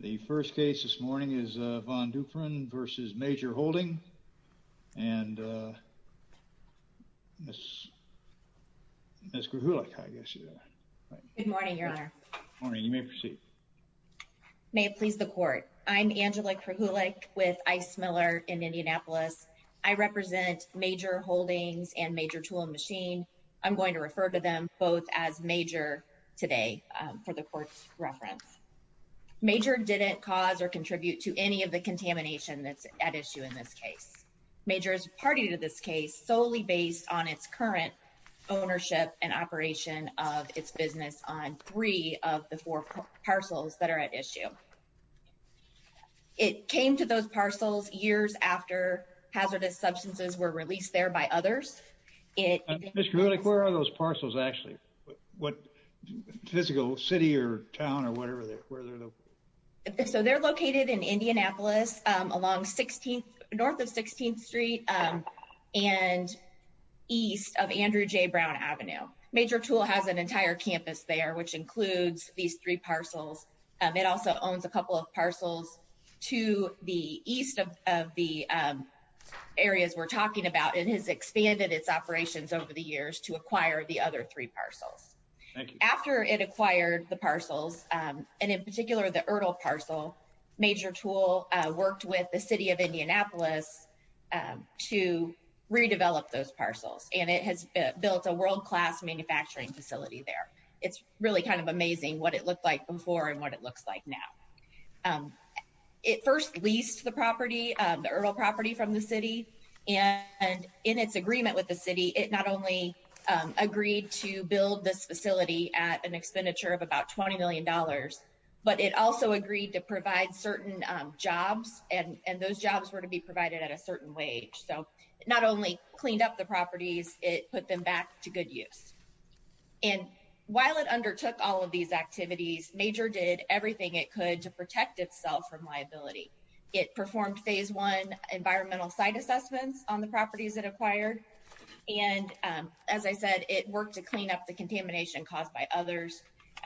The first case this morning is Von Duprin v. Major Holdings and Ms. Krahulik, I guess. Good morning, Your Honor. Good morning. You may proceed. May it please the Court. I'm Angela Krahulik with Ice Miller in Indianapolis. I represent Major Holdings and Major Tool and Machine. I'm going to refer to them both as Major today for the Court's reference. Major didn't cause or contribute to any of the contamination that's at issue in this case. Major is party to this case solely based on its current ownership and operation of its business on three of the four parcels that are at issue. It came to those parcels years after hazardous substances were released there by others. Ms. Krahulik, where are those parcels actually? What physical city or town or whatever? So they're located in Indianapolis along 16th, north of 16th Street and east of Andrew J. Brown Avenue. Major Tool has an entire campus there, which includes these three parcels. It also owns a couple of parcels to the east of the areas we're talking about. It has expanded its operations over the years to acquire the other three parcels. Thank you. After it acquired the parcels, and in particular the Ertl parcel, Major Tool worked with the City of Indianapolis to redevelop those parcels, and it has built a world-class manufacturing facility there. It's really kind of amazing what it looked like before and what it looks like now. It first leased the property, the Ertl property from the city, and in its agreement with the city, it not only agreed to build this facility at an expenditure of about $20 million, but it also agreed to provide certain jobs, and those jobs were to be provided at a certain wage. So it not only cleaned up the properties, it put them back to good use. And while it undertook all of these activities, it also worked with the City of Indianapolis to make sure that it was able to protect itself from liability. It performed phase one environmental site assessments on the properties it acquired, and, as I said, it worked to clean up the contamination caused by others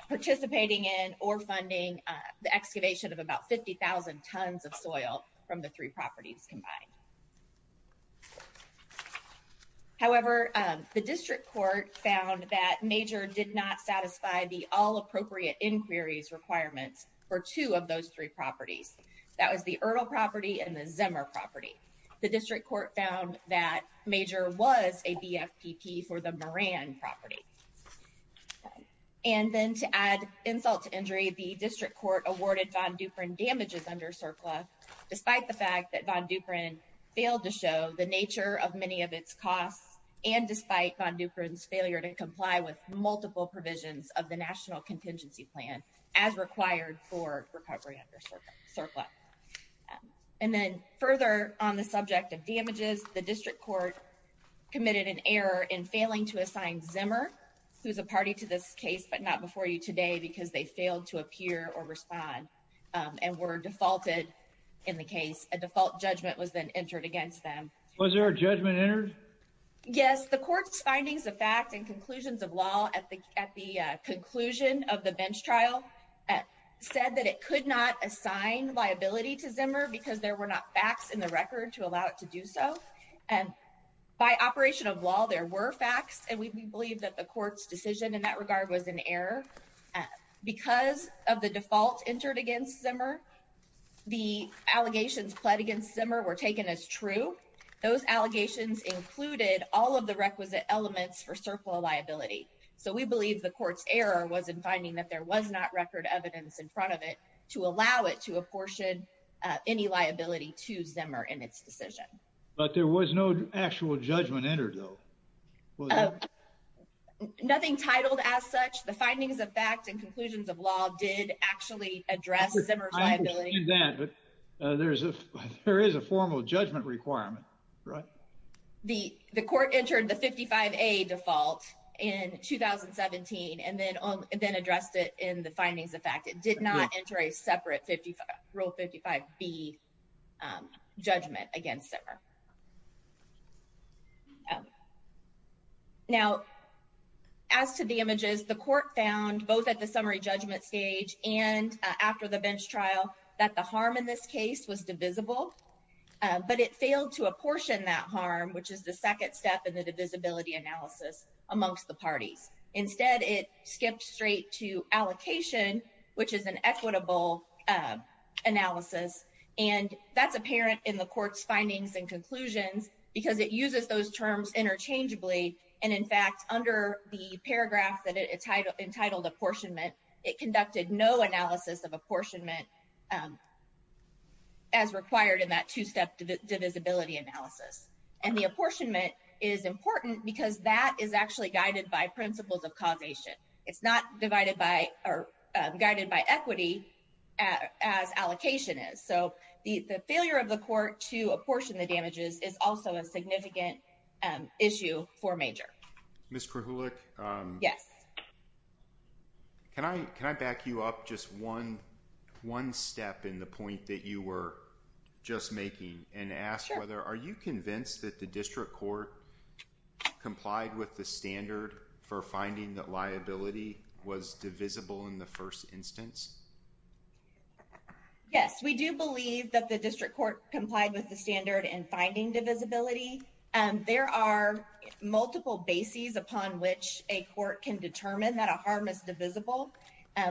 participating in or funding the excavation of about 50,000 tons of soil from the three properties combined. However, the district court found that MAJOR did not satisfy the all-appropriate inquiries requirements for two of those three properties. That was the Ertl property and the Zimmer property. The district court found that MAJOR was a BFPP for the Moran property. And then to add insult to injury, the district court awarded Von Duprin damages under CERCLA, despite the fact that Von Duprin failed to show the nature of many of its costs, and despite Von Duprin's failure to comply with multiple provisions of the National Contingency Plan as required for recovery under CERCLA. And then further on the subject of damages, the district court committed an error in failing to assign Zimmer, who's a party to this case but not before you today, because they failed to appear or respond and were defaulted in the case. A default judgment was then entered against them. Was there a judgment entered? Yes, the court's findings of fact and conclusions of law at the at the conclusion of the bench trial said that it could not assign liability to Zimmer because there were not facts in the record to allow it to do so. And by operation of law, there were facts, and we believe that the court's decision in that regard was an error. Because of the default entered against Zimmer, the allegations pled against Zimmer were taken as true. Those allegations included all of the requisite elements for CERCLA liability. So we believe the court's error was in finding that there was not record evidence in front of it to allow it to apportion any liability to Zimmer in its decision. But there was no actual judgment entered, though. Nothing titled as such. The findings of fact and conclusions of law did actually address Zimmer's liability. I understand that, but there is a formal judgment requirement, right? The court entered the 55A default in 2017 and then addressed it in the findings of fact. It did not enter a separate Rule 55B judgment against Zimmer. Now, as to the images, the court found both at the summary judgment stage and after the bench trial that the harm in this case was divisible, but it failed to apportion that harm, which is the second step in the divisibility analysis amongst the parties. Instead, it skipped straight to allocation, which is an equitable analysis, and that's apparent in the court's findings and conclusions because it uses those terms interchangeably, and in fact, under the paragraph that it entitled apportionment, it conducted no analysis of apportionment as required in that two-step divisibility analysis. And the apportionment is important because that is actually guided by principles of causation. It's not divided by or guided by equity as allocation is. So, the failure of the court to apportion the damages is also a significant issue for Major. Ms. Krahulik? Yes. Can I back you up just one step in the point that you were just making and ask whether are you convinced that the district court complied with the standard for finding that liability was divisible in the first instance? Yes, we do believe that the district court complied with the standard in finding divisibility. There are multiple bases upon which a court can determine that a harm is divisible.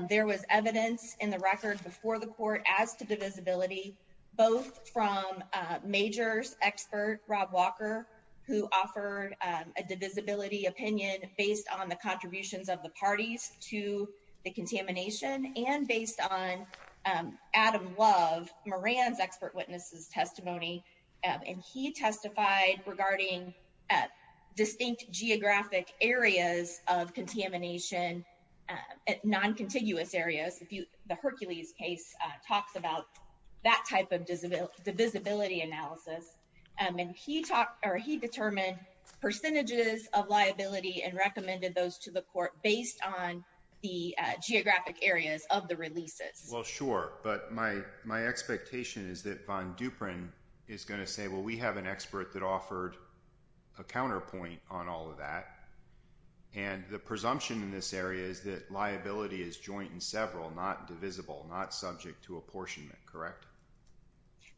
There was evidence in the record before the court as to divisibility, both from Major's expert, Rob Walker, who offered a divisibility opinion based on the contributions of the parties to the contamination and based on Adam Love, Moran's expert witness's testimony, and he testified regarding distinct geographic areas of contamination, non-contiguous areas. The Hercules case talks about that type of divisibility analysis. And he determined percentages of liability and recommended those to the court based on the geographic areas of the releases. Well, sure. But my expectation is that Von Duprin is going to say, well, we have an expert that offered a counterpoint on all of that. And the presumption in this area is that liability is joint and several, not divisible, not subject to apportionment, correct?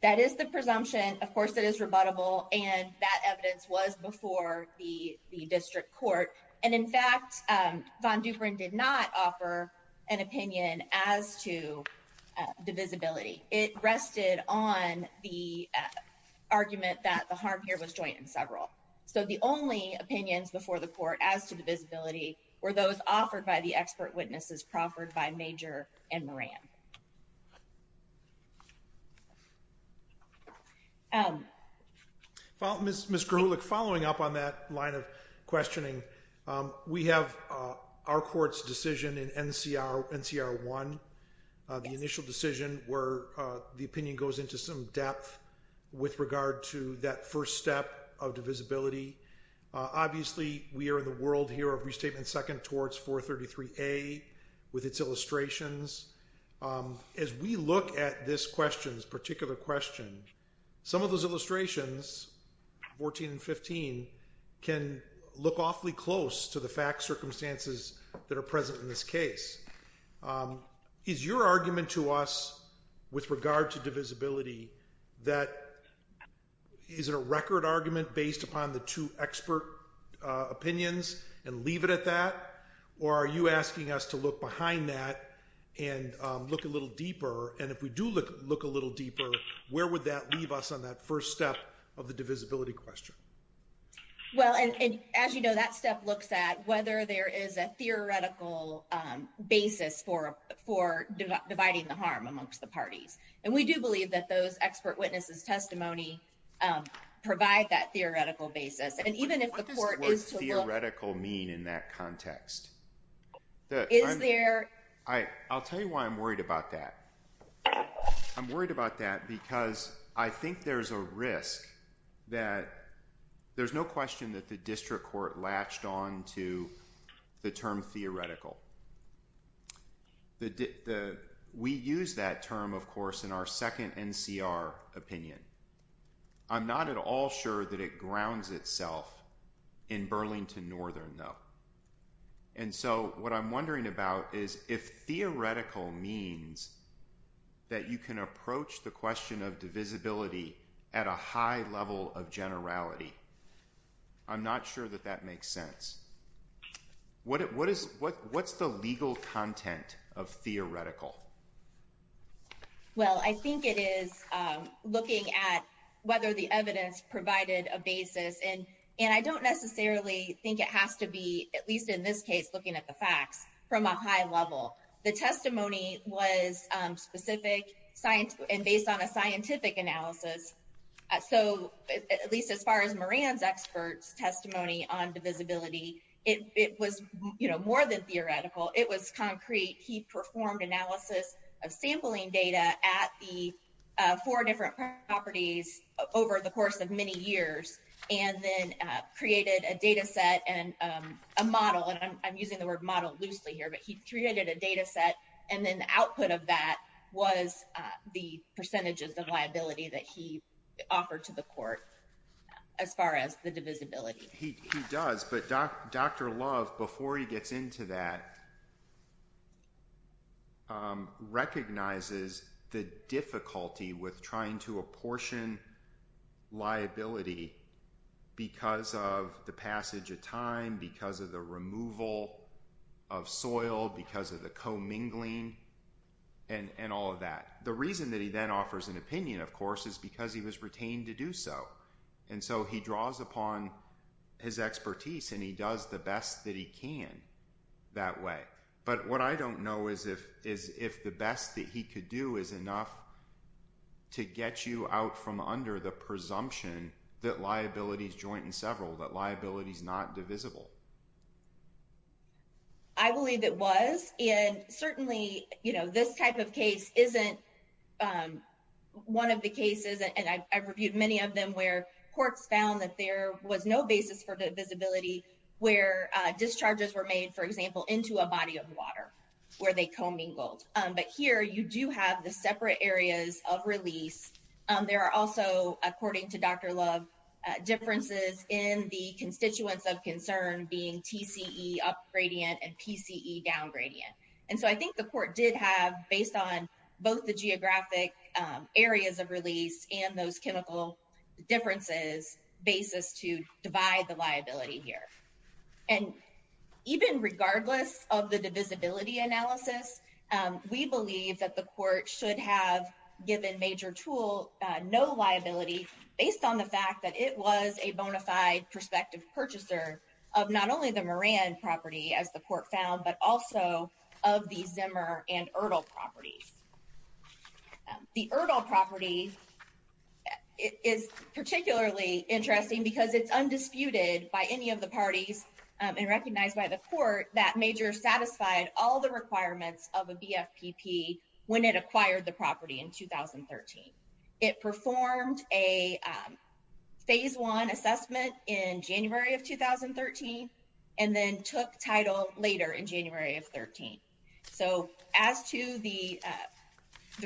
That is the presumption. Of course, it is rebuttable. And that evidence was before the district court. And in fact, Von Duprin did not offer an opinion as to divisibility. It rested on the argument that the harm here was joint and several. So the only opinions before the court as to divisibility were those offered by the expert witnesses proffered by Major and Moran. Well, Ms. Gerhulic, following up on that line of questioning, we have our court's decision in NCR1, the initial decision where the opinion goes into some depth with regard to that first step of divisibility. Obviously, we are in the world here of Restatement 2nd towards 433A with its illustrations. As we look at this question, this particular question, some of those illustrations, 14 and 15, can look awfully close to the fact circumstances that are present in this case. Is your argument to us with regard to divisibility that is it a record argument based upon the two expert opinions and leave it at that? Or are you asking us to look behind that and look a little deeper? And if we do look a little deeper, where would that leave us on that first step of the divisibility question? Well, and as you know, that step looks at whether there is a theoretical basis for dividing the harm amongst the parties. And we do believe that those expert witnesses' testimony provide that theoretical basis. And even if the court is to look— What does the word theoretical mean in that context? Is there— I'll tell you why I'm worried about that. I'm worried about that because I think there's a risk that there's no question that the district court latched on to the term theoretical. We use that term, of course, in our 2nd NCR opinion. I'm not at all sure that it grounds itself in Burlington Northern, though. And so what I'm wondering about is if theoretical means that you can approach the question of divisibility at a high level of generality. I'm not sure that that makes sense. What's the legal content of theoretical? Well, I think it is looking at whether the evidence provided a basis. And I don't necessarily think it has to be, at least in this case, looking at the facts from a high level. The testimony was specific and based on a scientific analysis. So at least as far as Moran's expert's testimony on divisibility, it was more than theoretical. It was concrete. He performed analysis of sampling data at the four different properties over the course of many years and then created a data set and a model. And I'm using the word model loosely here, but he created a data set. And then the output of that was the percentages of liability that he offered to the court as far as the divisibility. He does. But Dr. Love, before he gets into that, recognizes the difficulty with trying to apportion liability because of the passage of time, because of the removal of soil, because of the commingling, and all of that. The reason that he then offers an opinion, of course, is because he was retained to do so. And so he draws upon his expertise and he does the best that he can that way. But what I don't know is if the best that he could do is enough to get you out from under the presumption that liability is not divisible. I believe it was. And certainly, you know, this type of case isn't one of the cases, and I've reviewed many of them, where courts found that there was no basis for divisibility where discharges were made, for example, into a body of water where they commingled. But here you do have the separate areas of release. There are also, according to Dr. Love, differences in the constituents of concern being TCE up gradient and PCE down gradient. And so I think the court did have, based on both the geographic areas of release and those chemical differences, basis to divide the liability here. And even regardless of the divisibility analysis, we believe that the court should have given Major Tool no liability based on the fact that it was a bona fide prospective purchaser of not only the Moran property, as the court found, but also of the Zimmer and Erdl properties. The Erdl property is particularly interesting because it's undisputed by any of the parties and recognized by the court that Major satisfied all the requirements of a BFPP when it acquired the property in 2013. It performed a phase one assessment in January of 2013 and then took title later in January of 13. So as to the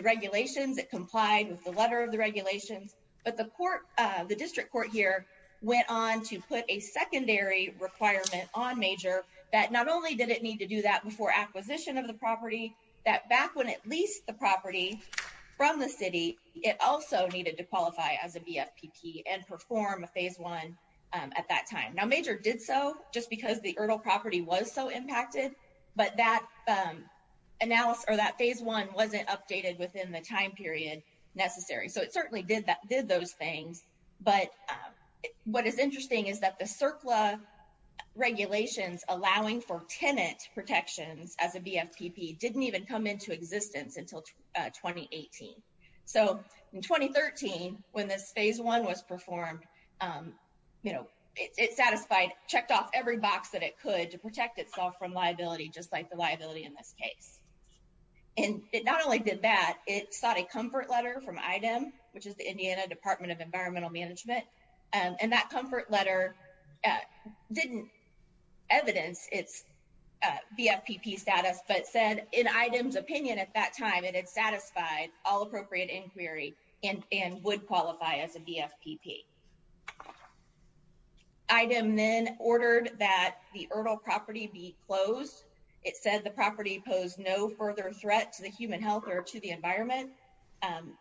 regulations, it complied with the letter of the regulations, but the court, the district court here, went on to put a secondary requirement on Major that not only did it need to do that before acquisition of the property, that back when it leased the property from the city, it also needed to qualify as a BFPP and perform a phase one at that time. Now, Major did so just because the Erdl property was so impacted, but that phase one wasn't updated within the time period necessary. So it certainly did those things, but what is interesting is that the CERCLA regulations allowing for tenant protections as a BFPP didn't even come into existence until 2018. So in 2013, when this phase one was performed, it satisfied, checked off every box that it could to protect itself from liability, just like the liability in this case. And it not only did that, it sought a Department of Environmental Management. And that comfort letter didn't evidence its BFPP status, but said in item's opinion at that time, it had satisfied all appropriate inquiry and would qualify as a BFPP. Item then ordered that the Erdl property be closed. It said the property posed no further threat to the human health or to the environment,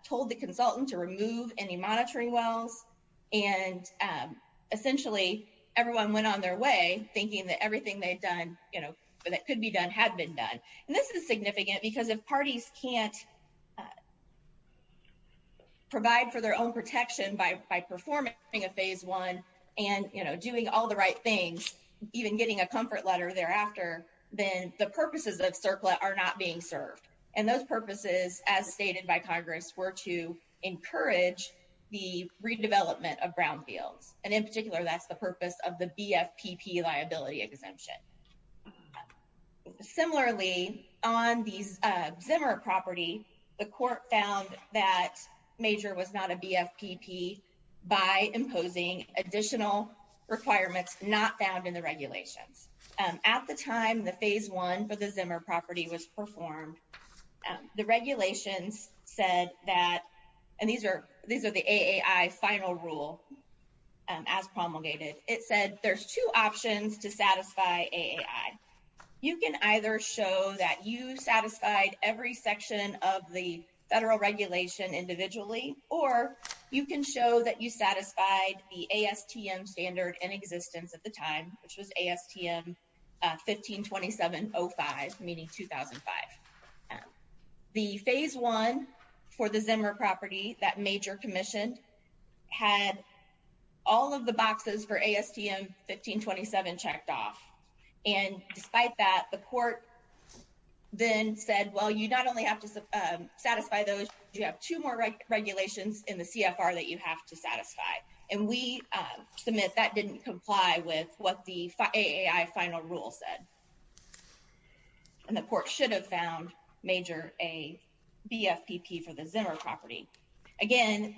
told the consultant to remove any monitoring wells. And essentially everyone went on their way thinking that everything they'd done, you know, that could be done had been done. And this is significant because if parties can't provide for their own protection by performing a phase one and, you know, doing all the right things, even getting a comfort letter thereafter, then the purposes of CERCLA are not being served. And those purposes, as stated by Congress, were to encourage the redevelopment of brownfields. And in particular, that's the purpose of the BFPP liability exemption. Similarly, on the Zimmer property, the court found that Major was not a BFPP by imposing additional requirements not found in the regulations. At the time, the phase one for the regulations said that, and these are the AAI final rule as promulgated, it said there's two options to satisfy AAI. You can either show that you satisfied every section of the federal regulation individually, or you can show that you satisfied the ASTM standard in existence at the phase one for the Zimmer property that Major commissioned had all of the boxes for ASTM 1527 checked off. And despite that, the court then said, well, you not only have to satisfy those, you have two more regulations in the CFR that you have to satisfy. And we submit that didn't comply with what the AAI final rule said. And the court should have found Major a BFPP for the Zimmer property. Again,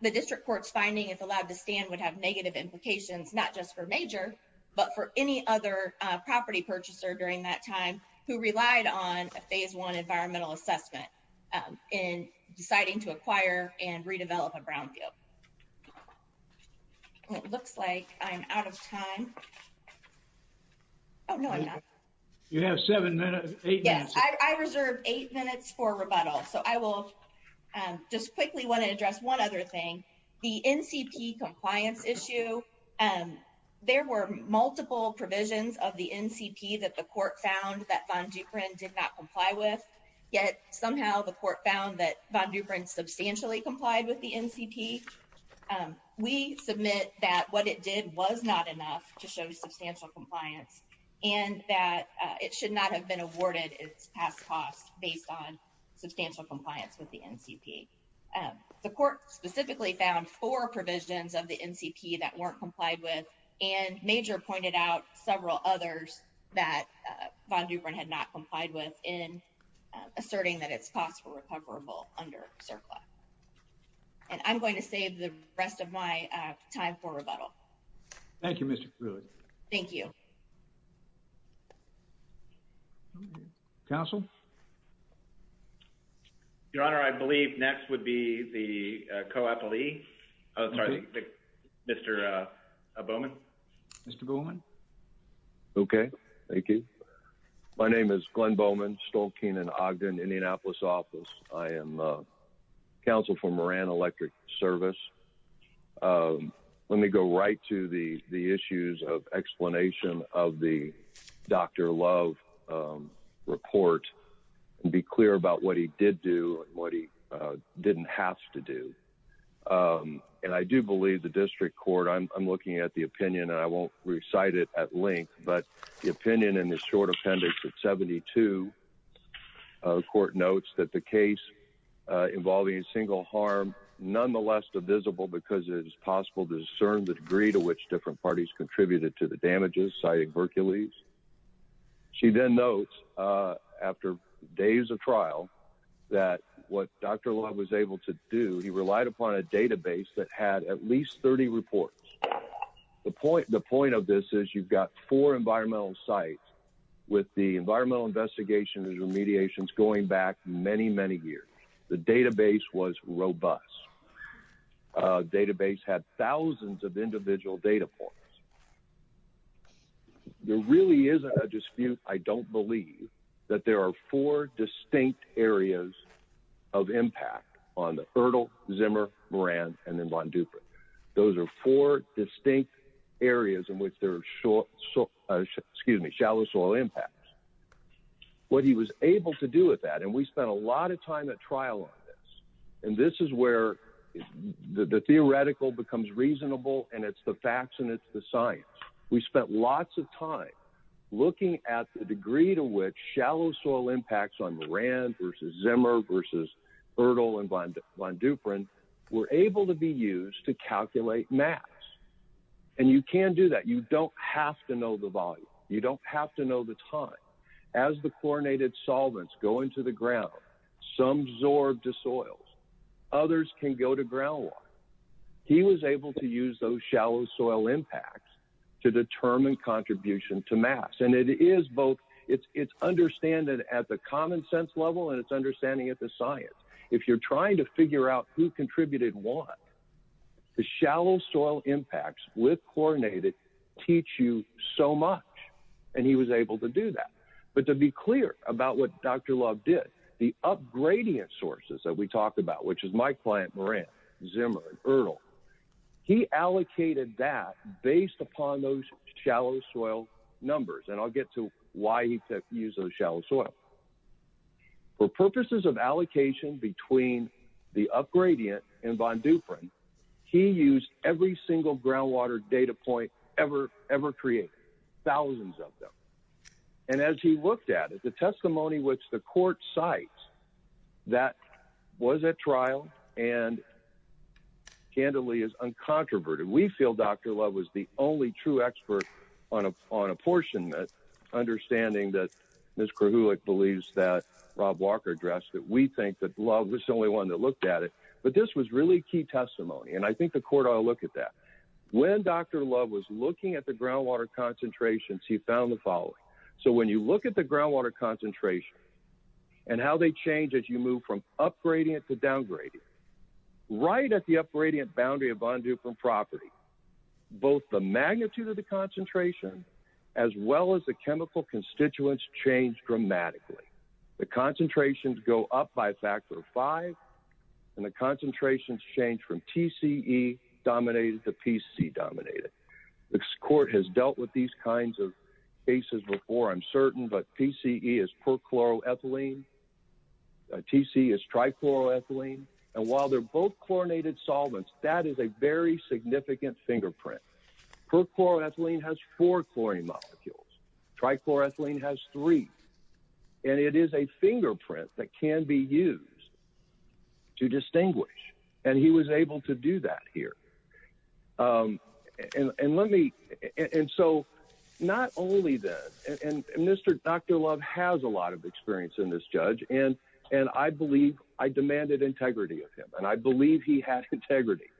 the district court's finding is allowed to stand would have negative implications, not just for Major, but for any other property purchaser during that time who relied on a phase one environmental assessment in deciding to acquire and redevelop a brownfield. It looks like I'm out of time. Oh, no, I'm not. You have seven minutes, eight minutes. Yes, I reserved eight minutes for rebuttal. So I will just quickly want to address one other thing. The NCP compliance issue, there were multiple provisions of the NCP that the court found that Von Duprin did not comply with, yet somehow the court found that Von Duprin substantially complied with the NCP. We submit that what it did was not enough to show substantial compliance and that it should not have been awarded its past costs based on substantial compliance with the NCP. The court specifically found four provisions of the NCP that weren't complied with, and Major pointed out several others that Von Duprin had not complied with in asserting that its costs were recoverable under CERCLA. And I'm going to save the rest of my time for rebuttal. Thank you, Mr. Krueger. Thank you. Counsel? Your Honor, I believe next would be the Okay. Thank you. My name is Glenn Bowman, Stolkeen and Ogden, Indianapolis office. I am counsel for Moran Electric Service. Let me go right to the issues of explanation of the Dr. Love report and be clear about what he did do and what he didn't have to do. And I do believe the district court, I'm looking at the opinion and I won't recite it at length, but the opinion in this short appendix at 72, the court notes that the case involving a single harm, nonetheless divisible because it is possible to discern the degree to which different parties contributed to the damages, citing Berkeleys. She then notes after days of trial that what Dr. Love was able to do, he relied upon a database that had at least 30 reports. The point of this is you've got four environmental sites with the environmental investigations and remediations going back many, many years. The database was robust. A database had thousands of individual data points. There really is a dispute, I don't believe, that there are four distinct areas of impact on the distinct areas in which there are shallow soil impacts. What he was able to do with that, and we spent a lot of time at trial on this, and this is where the theoretical becomes reasonable and it's the facts and it's the science. We spent lots of time looking at the degree to which shallow soil impacts on Moran versus Zimmer versus Erdl and Von Duprin were able to be used to calculate mass. You can do that. You don't have to know the volume. You don't have to know the time. As the chlorinated solvents go into the ground, some absorb to soils. Others can go to groundwater. He was able to use those shallow soil impacts to determine contribution to mass. It's understanding at the common sense level and it's understanding at the science. If you're trying to figure out who contributed what, the shallow soil impacts with chlorinated teach you so much. He was able to do that. To be clear about what Dr. Love did, the upgrading of sources that we talked about, which is my client Moran, Zimmer, and Erdl, he allocated that based upon those shallow soil numbers. I'll get to why he used those shallow soil. For purposes of allocation between the upgradient and Von Duprin, he used every single groundwater data point ever created, thousands of them. As he looked at it, the testimony which the court cites that was at trial and candidly is uncontroverted. We feel Dr. Love's effort on apportionment, understanding that Ms. Krahulik believes that Rob Walker addressed that. We think that Love was the only one that looked at it. This was really key testimony. I think the court ought to look at that. When Dr. Love was looking at the groundwater concentrations, he found the following. When you look at the groundwater concentration and how they change as you move from upgrading it to downgrading, right at the upgrading boundary of Von Duprin property, both the magnitude of the concentration as well as the chemical constituents change dramatically. The concentrations go up by a factor of five and the concentrations change from TCE dominated to PCE dominated. This court has dealt with these kinds of cases before, I'm certain, but PCE is perchloroethylene, TCE is trichloroethylene. While they're both chlorinated solvents, that is a very significant fingerprint. Perchloroethylene has four chlorine molecules, trichloroethylene has three. It is a fingerprint that can be used to distinguish. He was able to do that here. Not only that, and Dr. Love has a lot of experience in this judge. I believe I demanded integrity of him. I believe he had integrity.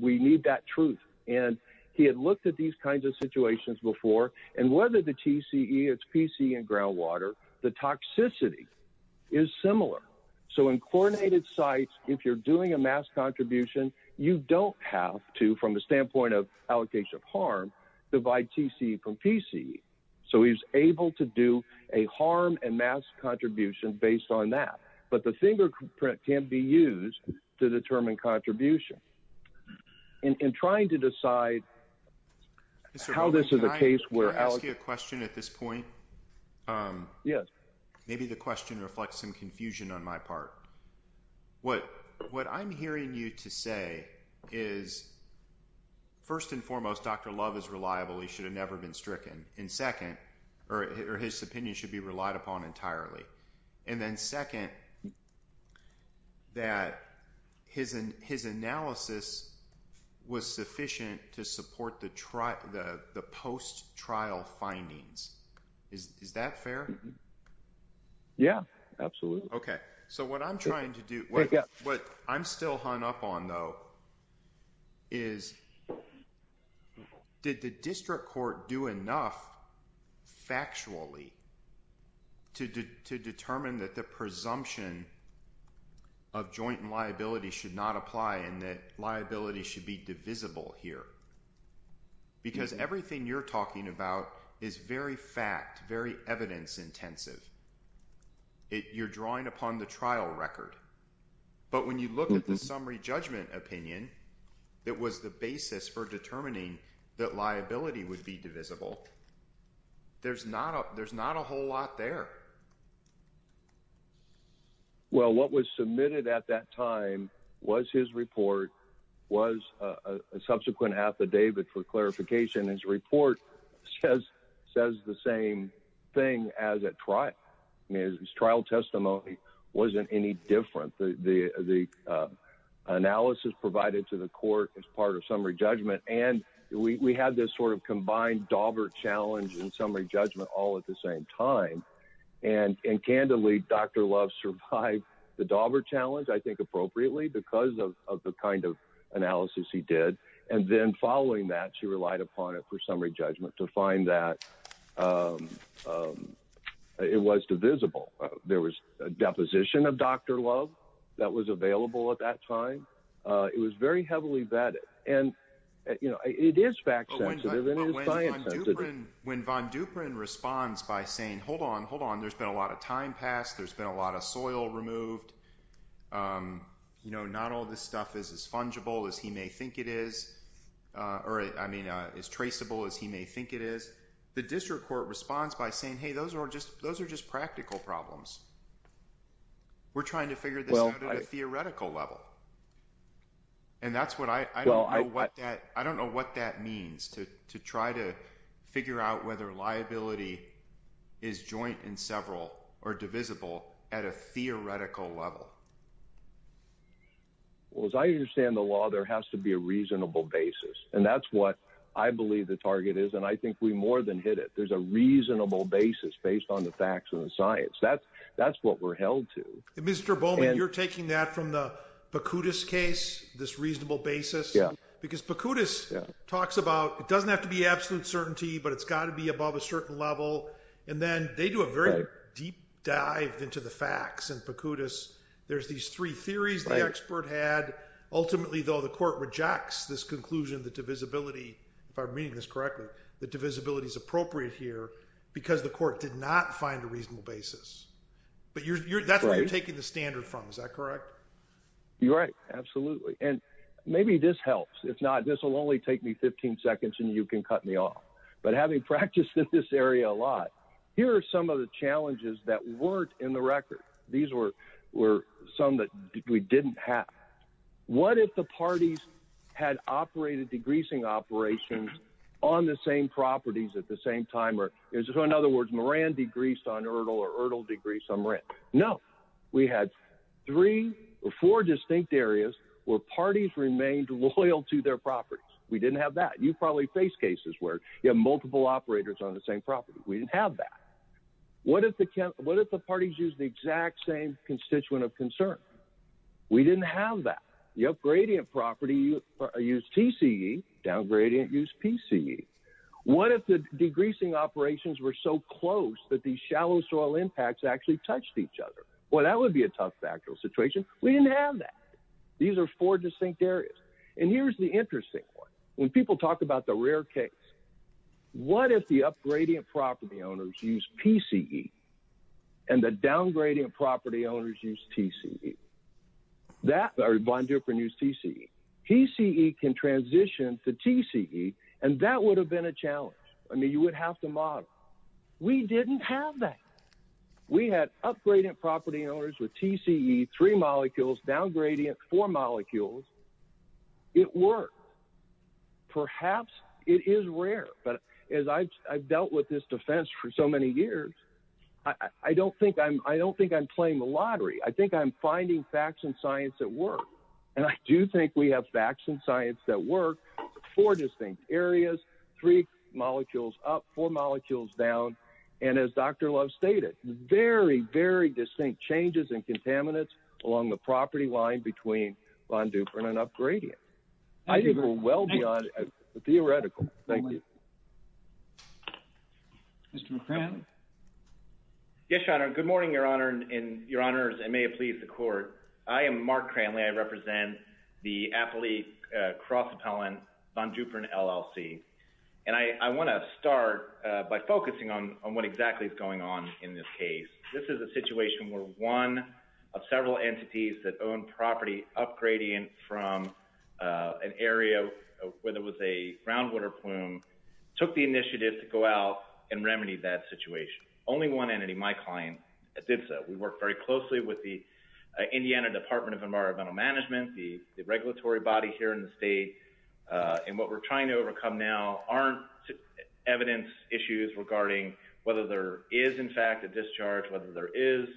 We need that truth. He had looked at these kinds of situations before. Whether the TCE, it's PCE and groundwater, the toxicity is similar. In chlorinated sites, if you're doing a mass contribution, you don't have to, from the standpoint of allocation of harm, divide TCE from PCE. He's able to do a harm and mass contribution based on that, but the fingerprint can be used to determine contribution. In trying to decide how this is a case where... Can I ask you a question at this point? Yes. Maybe the question reflects some confusion on my part. What I'm hearing you to say is, first and foremost, Dr. Love is reliable. He should have never been stricken. And second, or his opinion should be relied upon entirely. And then second, that his analysis was sufficient to support the post-trial findings. Is that fair? Yeah, absolutely. So what I'm trying to do, what I'm still hung up on though, is did the district court do enough factually to determine that the presumption of joint and liability should not apply and that liability should be divisible here? Because everything you're talking about is very fact, very evidence intensive. You're drawing upon the trial record. But when you look at the summary judgment opinion, it was the basis for determining that liability would be divisible. There's not a whole lot there. Well, what was submitted at that time was his report, was a subsequent affidavit for his trial testimony wasn't any different. The analysis provided to the court as part of summary judgment. And we had this sort of combined Dauber challenge and summary judgment all at the same time. And candidly, Dr. Love survived the Dauber challenge, I think appropriately because of the kind of analysis he did. And then following that, she relied upon it for summary judgment to find that it was divisible. There was a deposition of Dr. Love that was available at that time. It was very heavily vetted. And it is fact sensitive and it is science sensitive. When Von Duprin responds by saying, hold on, hold on, there's been a lot of time passed, there's been a lot of soil removed. Not all this stuff is as fungible as he may think it is, or I mean, as traceable as he may think it is. The district court responds by saying, hey, those are just those are just practical problems. We're trying to figure this out at a theoretical level. And that's what I don't know what that means to try to figure out whether liability is joint in several or divisible at a theoretical level. Well, as I understand the law, there has to be a reasonable basis. And that's what I believe the target is. And I think we more than hit it. There's a reasonable basis based on the facts and the science. That's what we're held to. Mr. Bowman, you're taking that from the Pocutis case, this reasonable basis. Because Pocutis talks about it doesn't have to be absolute certainty, but it's got to be above a certain level. And then they do a very deep dive into the facts. And Pocutis, there's these three theories the expert had. Ultimately, though, the court rejects this conclusion that divisibility, if I'm reading this correctly, that divisibility is appropriate here, because the court did not find a reasonable basis. But that's where you're taking the standard from. Is that correct? You're right. Absolutely. And maybe this helps. If not, this will only take me 15 seconds, and you can cut me off. But having practiced in this area a lot, here are some of the challenges that weren't in the record. These were some that we didn't have. What if the parties had operated degreasing operations on the same properties at the same time? In other words, Moran degreased on Erdl, or Erdl degreased on Moran? No. We had three or four distinct areas where parties remained loyal to their properties. We didn't have that. You probably faced cases where you have multiple operators on the same property. We didn't have that. What if the parties used the exact same constituent of concern? We didn't have that. The up-gradient property used TCE, down-gradient used PCE. What if the degreasing operations were so close that these shallow soil impacts actually touched each other? Well, that would be a tough factual situation. We didn't have that. These are four distinct areas. And here's the interesting one. When people talk about the rare case, what if the up-gradient property owners used PCE and the down-gradient property owners used TCE? That or Von Duprin used TCE. PCE can transition to TCE, and that would have been a challenge. I mean, you would have to model. We didn't have that. We had up-gradient property owners with TCE, three molecules, down-gradient, four molecules. It worked. Perhaps it is rare, but as I've dealt with this defense for so many years, I don't think I'm playing the lottery. I think I'm finding facts and science that work. And I do think we have facts and science that work. Four distinct areas, three molecules up, four molecules down. And as Dr. Love stated, very, very distinct changes in contaminants along the property line between Von Duprin and up-gradient. I think we're well beyond theoretical. Thank you. Mr. Cranley? Yes, Your Honor. Good morning, Your Honor and Your Honors, and may it please the Court. I am Mark Cranley. I represent the Affili Cross Appellant, Von Duprin LLC. And I want to start by focusing on what exactly is going on in this case. This is a situation where one of several entities that own property up-gradient from an area where there was a groundwater plume took the initiative to go out and remedy that situation. Only one entity, my client, did so. We work very closely with the Indiana Department of Environmental Management, the regulatory body here in the state. And what we're trying to overcome now aren't evidence issues regarding whether there is, in fact, a discharge, whether there is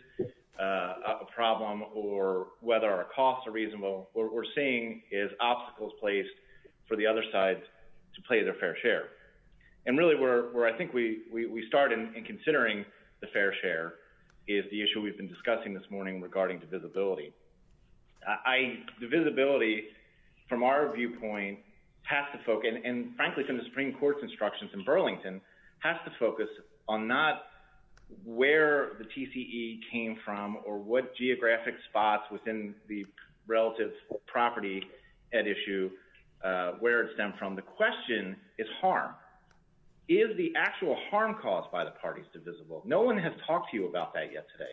a problem, or whether our costs are reasonable. What we're seeing is obstacles placed for the other side to play their fair share. And really where I think we start in considering the fair share is the issue we've been discussing this morning regarding divisibility. Divisibility, from our viewpoint, has to focus, and frankly from the Supreme Court's instructions in Burlington, has to focus on not where the TCE came from or what geographic spots within the relative property at issue where it stemmed from. The question is harm. Is the actual harm caused by the parties divisible? No one has talked to you about that yet today.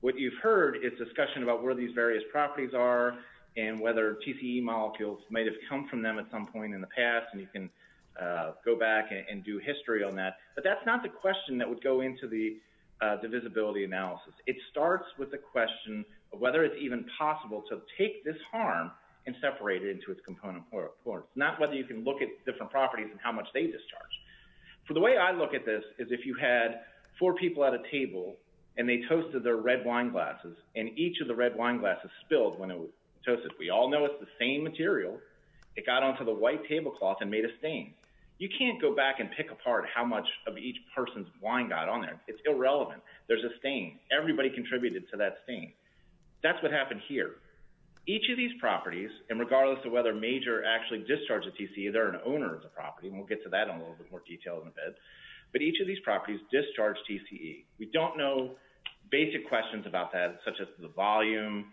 What you've heard is discussion about where these in the past, and you can go back and do history on that. But that's not the question that would go into the divisibility analysis. It starts with the question of whether it's even possible to take this harm and separate it into its component parts, not whether you can look at different properties and how much they discharge. The way I look at this is if you had four people at a table and they toasted their red wine glasses, and each of the red wine glasses spilled when it was a white tablecloth and made a stain. You can't go back and pick apart how much of each person's wine got on there. It's irrelevant. There's a stain. Everybody contributed to that stain. That's what happened here. Each of these properties, and regardless of whether Major actually discharged the TCE, they're an owner of the property, and we'll get to that in a little bit more detail in a bit, but each of these properties discharged TCE. We don't know basic questions about that, such as the volume,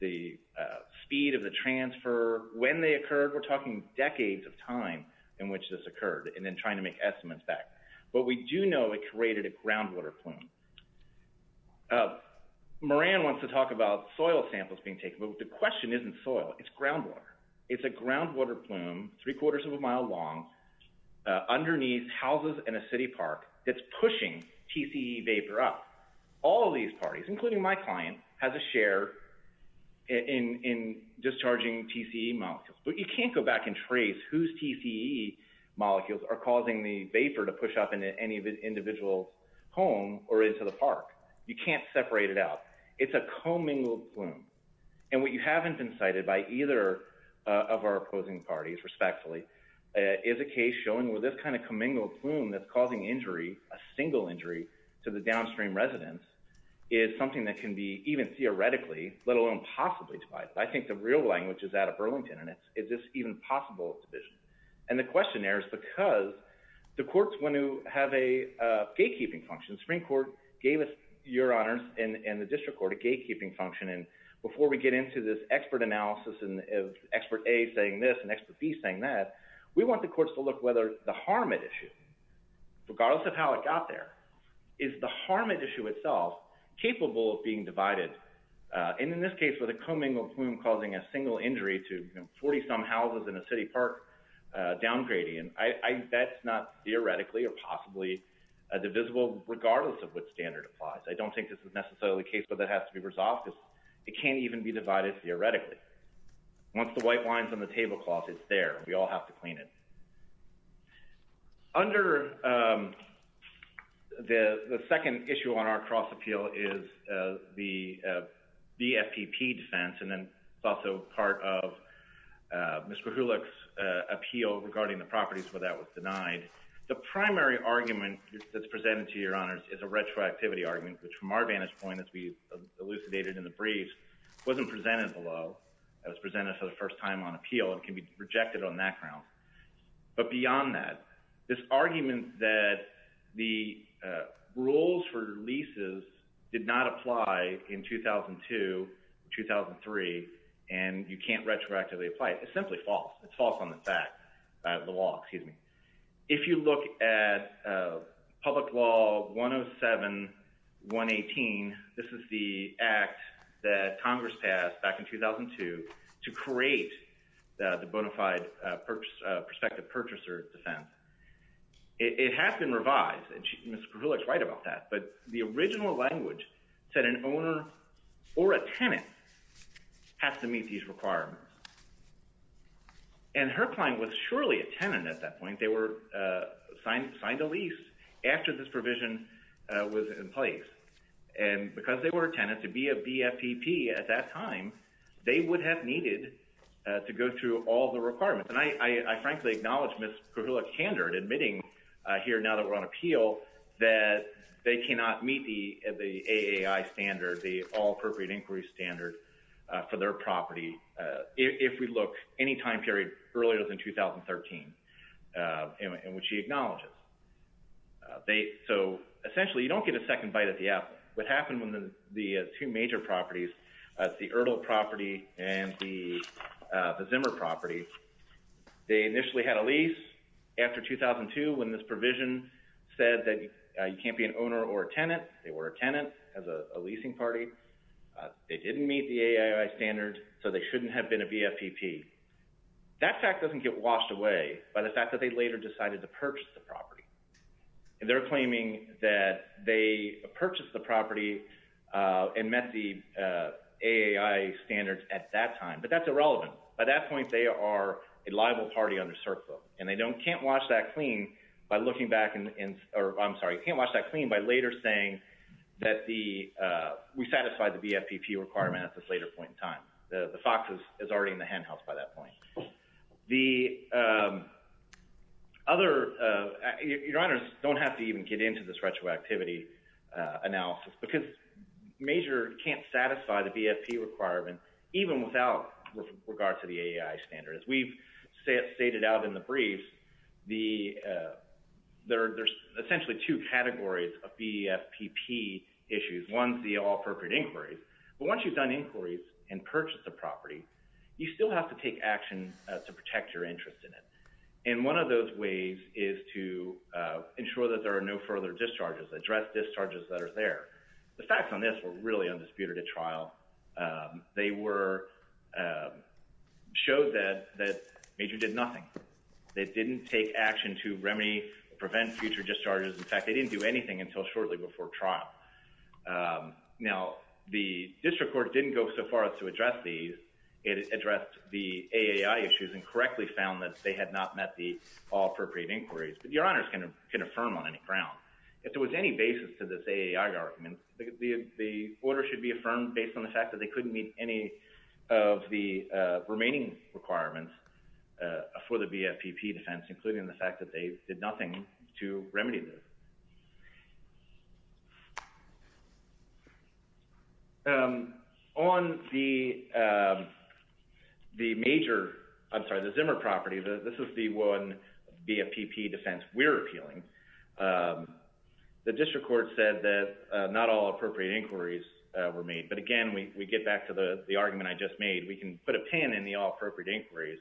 the speed of the transfer, when they occurred. We're talking decades of time in which this occurred and then trying to make estimates back, but we do know it created a groundwater plume. Moran wants to talk about soil samples being taken, but the question isn't soil. It's groundwater. It's a groundwater plume three-quarters of a mile long underneath houses in a city park that's pushing TCE vapor up. All of these parties, including my client, has a share in discharging TCE molecules, but you can't go back and trace whose TCE molecules are causing the vapor to push up into any individual's home or into the park. You can't separate it out. It's a commingled plume, and what you haven't been cited by either of our opposing parties, respectfully, is a case showing where this kind of commingled plume that's causing injury, a single injury, to the downstream residents is something that can be even theoretically, let alone possibly, divided. I think the real language is out of Burlington, and it's, is this even possible division? And the question there is because the courts want to have a gatekeeping function. Supreme Court gave us, Your Honors, and the district court a gatekeeping function, and before we get into this expert analysis of expert A saying this and expert B saying that, we want the courts to look whether the harm at issue, regardless of how it got there, is the harm at issue itself capable of being divided. And in this case, with a commingled plume causing a single injury to 40-some houses in a city park downgrading, I bet it's not theoretically or possibly divisible, regardless of what standard applies. I don't think this is necessarily the case, but that has to be resolved because it can't even be divided theoretically. Once the white line's on the tablecloth, it's there. We all have to clean it. Under the second issue on our cross-appeal is the BFPP defense, and then it's also part of Mr. Hulick's appeal regarding the properties where that was denied. The primary argument that's presented to Your Honors is a retroactivity argument, which from our vantage point, as we elucidated in the brief, wasn't presented below. It was presented for the first time on appeal, and can be rejected on that ground. But beyond that, this argument that the rules for leases did not apply in 2002, 2003, and you can't retroactively apply, it's simply false. It's false on the fact, the law, excuse me. If you look at Public Law 107-118, this is the act that Congress passed back in 2002 to create the bona fide prospective purchaser defense. It has been revised, and Mr. Hulick's right about that, but the original language said an owner or a tenant has to meet these requirements. And Hercline was surely a tenant at that point. They were signed a lease after this provision was in place. And because they were a tenant, to be a BFPP at that time, they would have needed to go through all the requirements. And I frankly acknowledge Ms. Kuhila Kander admitting here now that we're on appeal, that they cannot meet the AAI standard, the All Appropriate Inquiry standard, for their property, if we look any time period earlier than 2013, in which she acknowledges. So essentially, you don't get a second bite at the apple. What happened with the two major properties, the Ertl property and the Zimmer property, they initially had a lease after 2002 when this provision said that you can't be an owner or a tenant. They were a tenant as a leasing party. They didn't meet the AAI standard, so they shouldn't have been a BFPP. That fact doesn't get washed away by the fact that they later decided to purchase the property. And they're purchased the property and met the AAI standards at that time. But that's irrelevant. At that point, they are a liable party under CERCLA. And they can't wash that clean by looking back in, or I'm sorry, can't wash that clean by later saying that we satisfied the BFPP requirement at this later point in time. The fox is already in the henhouse by that point. The other, your honors don't have to even get into this retroactivity analysis because MAJOR can't satisfy the BFPP requirement even without regard to the AAI standard. As we've stated out in the briefs, there's essentially two categories of BFPP issues. One's the all-appropriate inquiries. But once you've done inquiries and purchased the property, you still have to take action to protect your interest in it. And one of those ways is to ensure that there are no further discharges, address discharges that are there. The facts on this were really undisputed at trial. They were, showed that MAJOR did nothing. They didn't take action to remedy, prevent future discharges. In fact, they didn't do anything until shortly before trial. Now, the district court didn't go so far as to address these. It addressed the AAI issues and correctly found that they had not met the all-appropriate inquiries. But your honors can affirm on any ground. If there was any basis to this AAI argument, the order should be affirmed based on the fact that they couldn't meet any of the remaining requirements for the BFPP defense, including the fact that they did nothing to remedy this. On the MAJOR, I'm sorry, the Zimmer property, this is the one BFPP defense we're appealing, the district court said that not all-appropriate inquiries were made. But again, we get back to the argument I just made. We can put a pin in the all-appropriate inquiries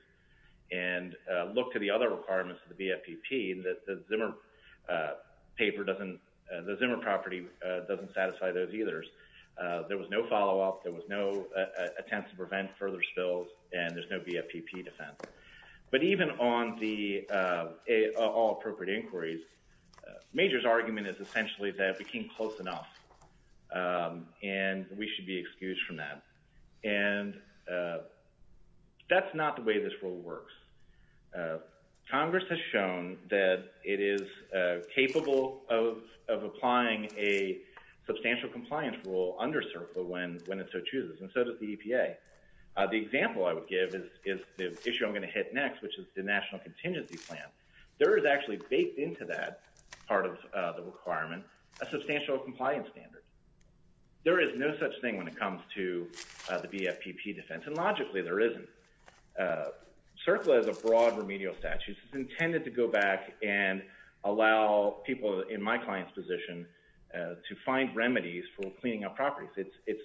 and look to the other requirements of the BFPP and that the Zimmer paper doesn't, the Zimmer property doesn't satisfy those either. There was no follow-up, there was no attempt to prevent further spills, and there's no BFPP defense. But even on the all-appropriate inquiries, MAJOR's argument is essentially that we came close enough and we should be excused from that. And that's not the way this rule works. Congress has shown that it is capable of applying a substantial compliance rule under CERCLA when it so chooses, and so does the EPA. The example I would give is the issue I'm going to hit next, which is the National Contingency Plan. There is actually baked into that part of the requirement a substantial compliance standard. There is no such thing when it comes to the BFPP defense, and logically there isn't. CERCLA is a broad remedial statute. It's intended to go back and allow people in my client's position to find remedies for cleaning up properties. It's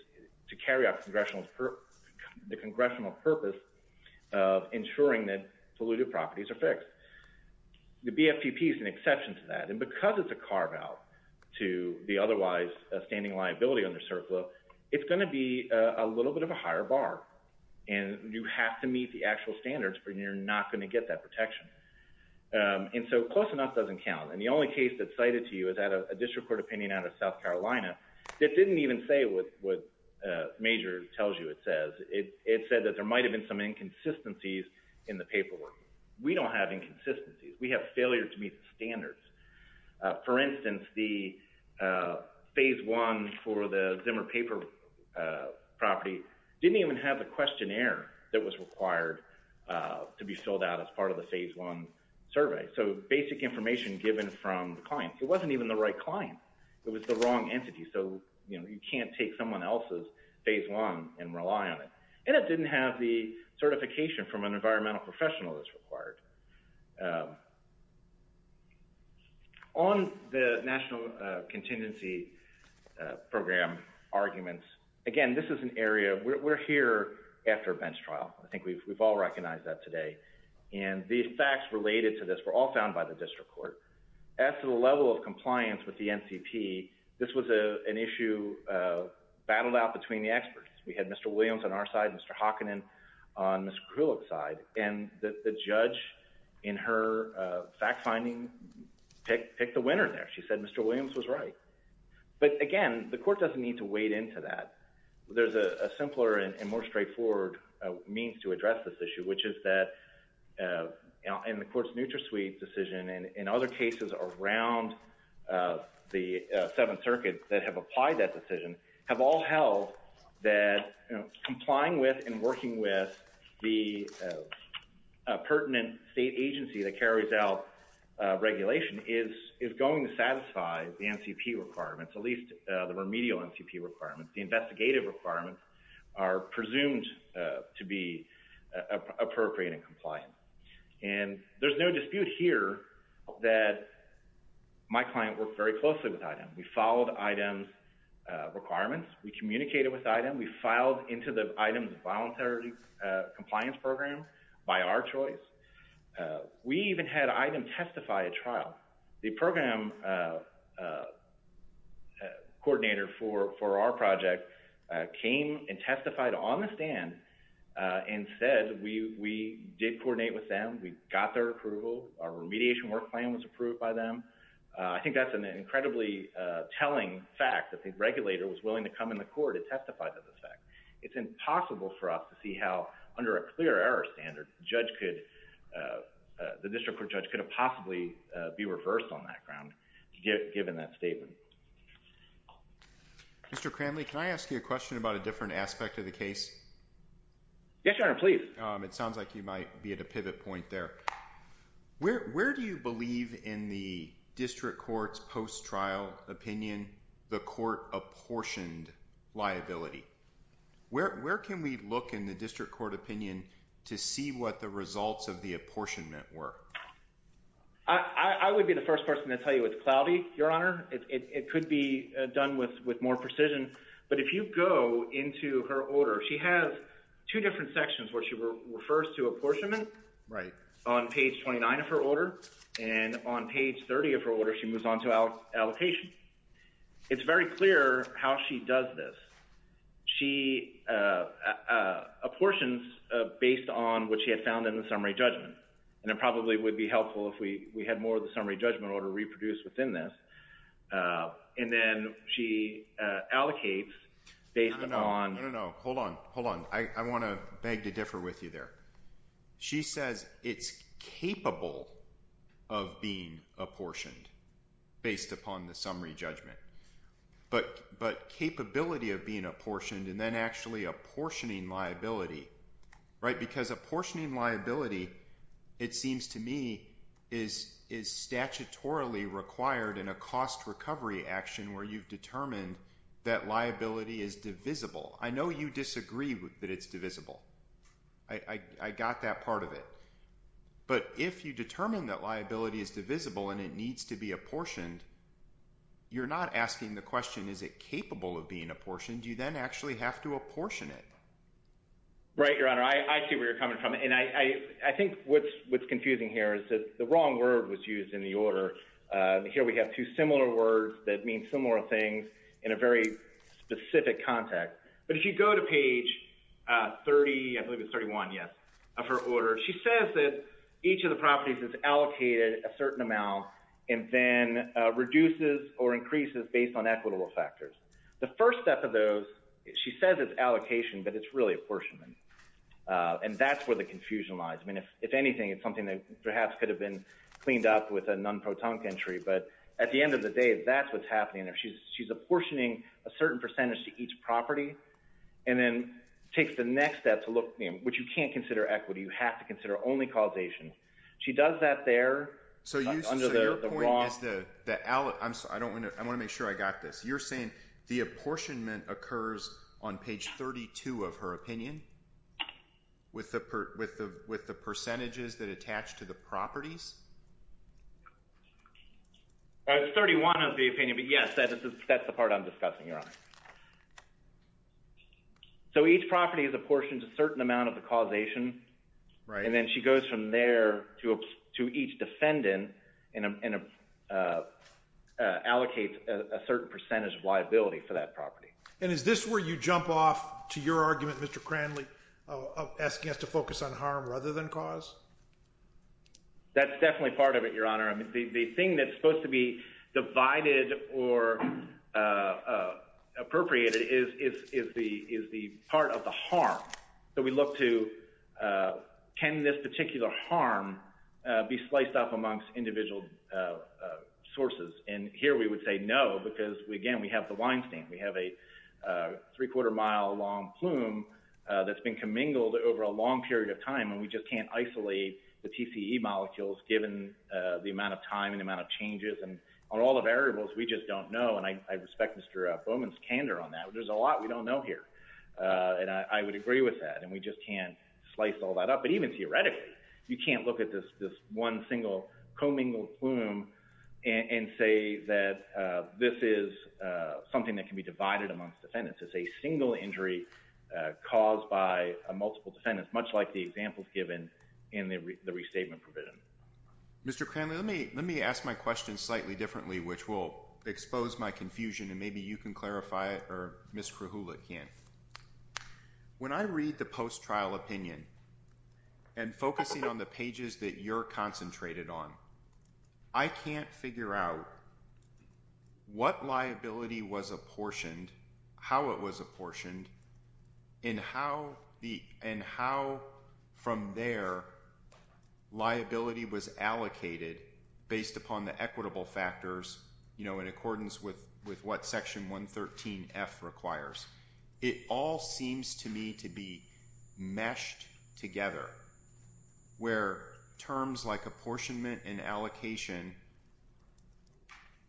to carry out the congressional purpose of ensuring that polluted properties are fixed. The BFPP is an exception to that, and because it's a carve-out to the otherwise standing liability under CERCLA, it's going to be a little bit of a higher bar. And you have to meet the actual standards, or you're not going to get that protection. And so close enough doesn't count. And the only case that's cited to you is a district court opinion out of South Carolina that didn't even say what MAJOR tells you it says. It said that there might have been some inconsistencies in the paperwork. We don't have inconsistencies. We have failure to meet the standards. For instance, the Phase 1 for the Zimmer paper property didn't even have the questionnaire that was required to be filled out as part of the Phase 1 survey. So basic information given from the client. It wasn't even the right client. It was the wrong entity. So you can't take someone else's Phase 1 and rely on it. And it didn't have the certification from an environmental professional that's required. On the National Contingency Program arguments, again, this is an area. We're here after a bench trial. I think we've all recognized that today. And the facts related to this were all found by the district court. As to the level of compliance with the NCP, this was an issue battled out between the experts. We had Mr. Williams on our side, Mr. Hockannon on Ms. Krulik's side. And the judge, in her fact-finding, picked the winner there. She said Mr. Williams was right. But again, the court doesn't need to wade into that. There's a simpler and more straightforward means to address this issue, which is that in the court's NutraSuite decision and in other cases around the Seventh Circuit that have applied that decision have all held that complying with and working with the pertinent state agency that carries out regulation is going to satisfy the NCP requirements, at least the remedial NCP requirements. The investigative requirements are presumed to be appropriate and compliant. And there's no dispute here that my client worked very closely with IDEM. We followed IDEM's requirements. We communicated with IDEM. We filed into the IDEM's voluntary compliance program by our choice. We even had IDEM testify at trial. The program coordinator for our project came and testified on the stand and said we did coordinate with them. We got their approval. Our remediation work plan was approved by them. I think that's an incredibly telling fact that the regulator was willing to come in the court to testify to this fact. It's impossible for us to see how, under a clear error standard, the district court judge could have possibly be reversed on that ground given that statement. Mr. Cranley, can I ask you a question about a different aspect of the case? Yes, Your Honor, please. It sounds like you might be at a pivot point there. Where do you believe in the district court's post-trial opinion the court apportioned liability? Where can we look in the district court opinion to see what the results of the apportionment were? I would be the first person to tell you it's cloudy, Your Honor. It could be done with more precision. But if you go into her order, she has two different sections where she refers to apportionment on page 29 of her order, and on page 30 of her order, she moves on to allocation. It's very clear how she does this. She apportions based on what she had found in the summary judgment. And it probably would be helpful if we had more of the summary judgment order reproduced within this. And then she allocates based upon... No, no, no. Hold on. Hold on. I it's capable of being apportioned based upon the summary judgment. But capability of being apportioned and then actually apportioning liability... Because apportioning liability, it seems to me, is statutorily required in a cost recovery action where you've determined that liability is divisible. I know you disagree that it's divisible. I got that part of it. But if you determine that liability is divisible and it needs to be apportioned, you're not asking the question, is it capable of being apportioned? You then actually have to apportion it. Right, Your Honor. I see where you're coming from. And I think what's confusing here is that the wrong word was used in the order. Here we have two similar words that mean similar things in a very specific context. But if you go to page 30, I believe it's 31, yes, of her order, she says that each of the properties is allocated a certain amount and then reduces or increases based on equitable factors. The first step of those, she says it's allocation, but it's really apportionment. And that's where the confusion lies. I mean, if anything, it's something that perhaps could have been cleaned up with a non-protonic entry. But at the end of the day, that's what's happening there. She's apportioning a certain percentage to each property and then takes the next step to look, which you can't consider equity, you have to consider only causation. She does that there. So your point is, I want to make sure I got this. You're saying the apportionment occurs on page 32 of her opinion with the percentages that attach to the properties? It's 31 of the opinion, but yes, that's the part I'm discussing, Your Honor. So each property is apportioned a certain amount of the causation. And then she goes from there to each defendant and allocates a certain percentage of liability for that property. And is this where you jump off to your argument, Mr. Cranley, asking us to focus on harm rather than cause? That's definitely part of it, Your Honor. The thing that's supposed to be divided or appropriated is the part of the harm. So we look to, can this particular harm be sliced up amongst individual sources? And here we would say no, because again, we have the Weinstein. We have a three-quarter mile long plume that's been commingled over a long period of time and we just can't isolate the TCE molecules given the amount of time and the amount of changes and all the variables we just don't know. And I respect Mr. Bowman's candor on that. There's a lot we don't know here. And I would agree with that. And we just can't slice all that up. But even theoretically, you can't look at this one single commingled plume and say that this is something that can be divided amongst defendants. It's a single injury caused by multiple defendants, much like the examples given in the restatement provision. Mr. Cranley, let me ask my question slightly differently, which will expose my confusion and maybe you can clarify it or Ms. Krahula can. When I read the post-trial opinion and focusing on the pages that you're concentrated on, I can't figure out what liability was apportioned, how it was apportioned, and how from there liability was allocated based upon the equitable factors in accordance with what Section 113F requires. It all seems to me to be meshed together where terms like apportionment and allocation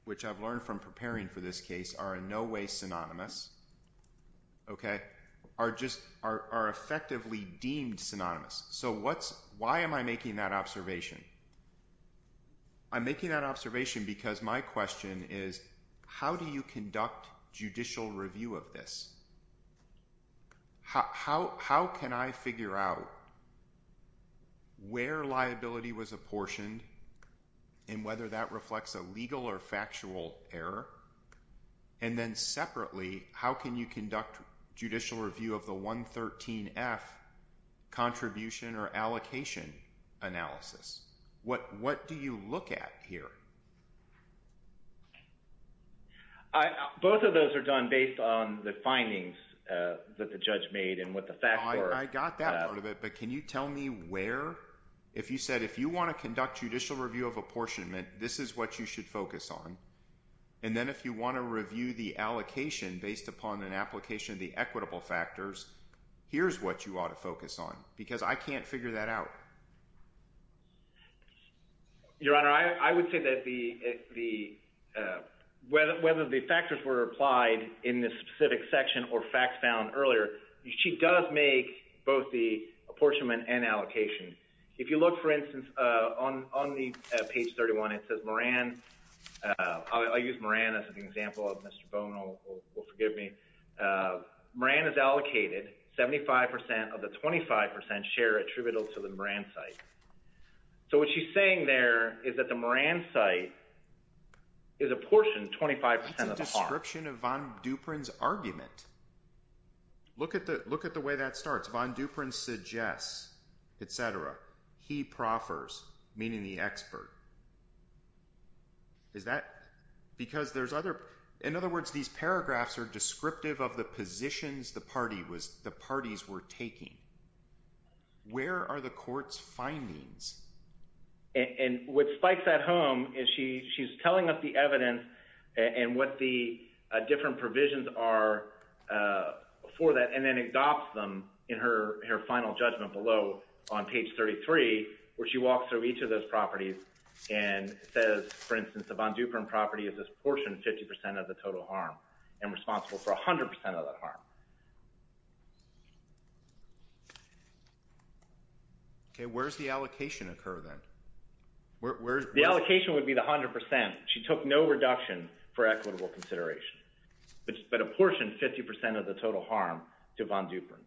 which I've learned from preparing for this case are in no way synonymous, okay, are effectively deemed synonymous. So why am I making that observation? I'm making that observation because my question is how do you conduct judicial review of this? How can I figure out where liability was apportioned and whether that reflects a legal or factual error? And then separately, how can you conduct judicial review of the 113F contribution or allocation analysis? What do you look at here? Both of those are done based on the findings that the judge made and what the facts were. I got that part of it, but can you tell me where? If you said if you want to conduct judicial review of apportionment, this is what you should focus on. And then if you want to review the allocation based upon an application of the equitable factors, here's what you ought to focus on because I can't figure that out. Your Honor, I would say that whether the factors were applied in this specific section or facts found earlier, she does make both the apportionment and allocation. If you look, for instance, on page 31, it says Moran. I'll use Moran as an example. Mr. Bone will forgive me. Moran is allocated 75% of the 25% share attributable to the Moran site. So what she's saying there is that the Moran site is apportioned 25% of the part. That's a description of Von Duprin's argument. Look at the way that starts. Von Duprin suggests, etc. He proffers, meaning the expert. Is that because there's other, in other words, these paragraphs are descriptive of the positions the parties were taking. Where are the court's findings? And what spikes that home is she's telling us the evidence and what the different provisions are for that and then adopts them in her final judgment below on page 33 where she walks through each of those properties and says, for instance, the Von Duprin property is apportioned 50% of the total harm and responsible for 100% of that harm. Okay, where does the allocation occur then? The allocation would be the 100%. She took no reduction for equitable consideration. But apportioned 50% of the total harm to Von Duprin.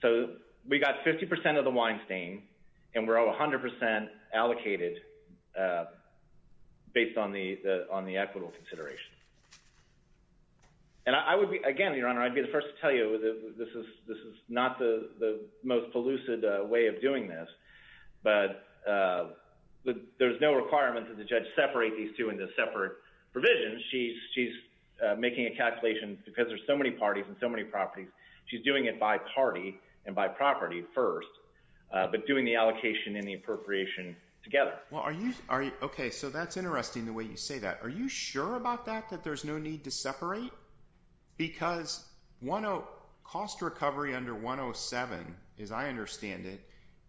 So we got 50% of the Weinstein and we're all 100% allocated based on the equitable consideration. And I would be, again, Your Honor, I'd be the first to tell you this is not the most pellucid way of doing this. But there's no requirement that the judge separate these two into separate provisions. She's making a calculation because there's so many parties and so many properties. She's doing it by party and by property first, but doing the allocation and the appropriation together. Well, are you? Are you? Okay, so that's interesting the way you say that. Are you sure about that, that there's no need to separate? Because cost recovery under 107, as I understand it,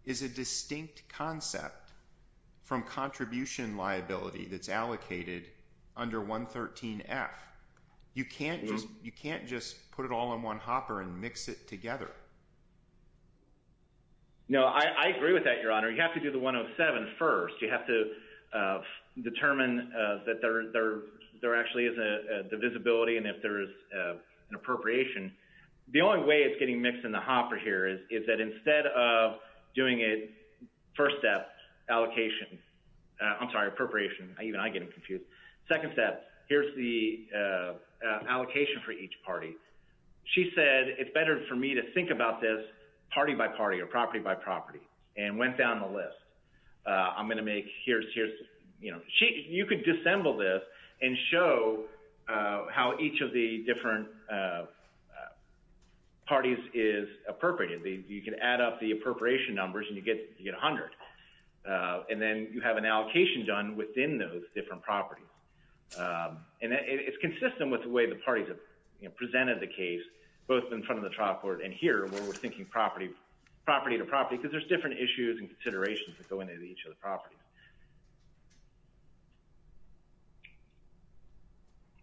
is a distinct concept from contribution liability that's allocated under 113F. You can't just put it all in one hopper and mix it together. No, I agree with that, Your Honor. You have to do the 107 first. You have to determine that there actually is a divisibility and if there is an appropriation. The only way it's getting mixed in the hopper here is that instead of doing it first step, allocation, I'm sorry, appropriation, even I'm getting confused. Second step, here's the allocation for each party. She said it's better for me to think about this party by party or property by property and went down the list. I'm going to make here's, you know, you could disassemble this and show how each of the different parties is appropriated. You can add up the appropriation numbers and you get 100. And then you have an allocation done within those different properties. And it's consistent with the way the parties have presented the case, both in front of the trial court and here where we're thinking property to property because there's different issues and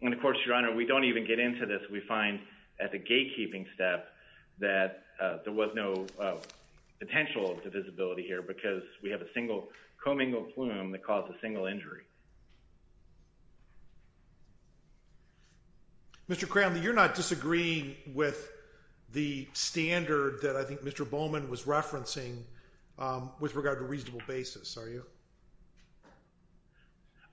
and of course, Your Honor, we don't even get into this. We find at the gatekeeping step that there was no potential divisibility here because we have a single commingled plume that caused a single injury. Mr. Cram, you're not disagreeing with the standard that I think Mr. Bowman was referencing with regard to reasonable basis, are you?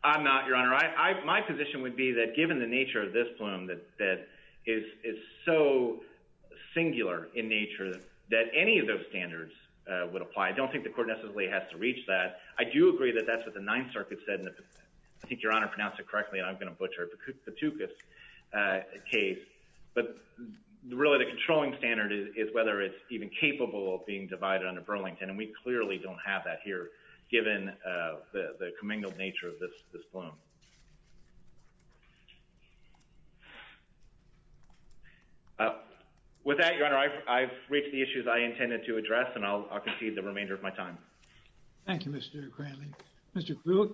I'm not, Your Honor. My position would be that given the nature of this plume that is so singular in nature that any of those standards would apply. I don't think the court necessarily has to reach that. I do agree that that's what the Ninth Circuit said and I think Your Honor pronounced it correctly and I'm going to butcher it, the Patoukas case. But really, the controlling standard is whether it's even capable of being divided under Burlington and we clearly don't have that here given the commingled nature of this plume. With that, Your Honor, I've reached the issues I intended to address and I'll concede the remainder of my time. Thank you, Mr. Cranley. Mr. Krug,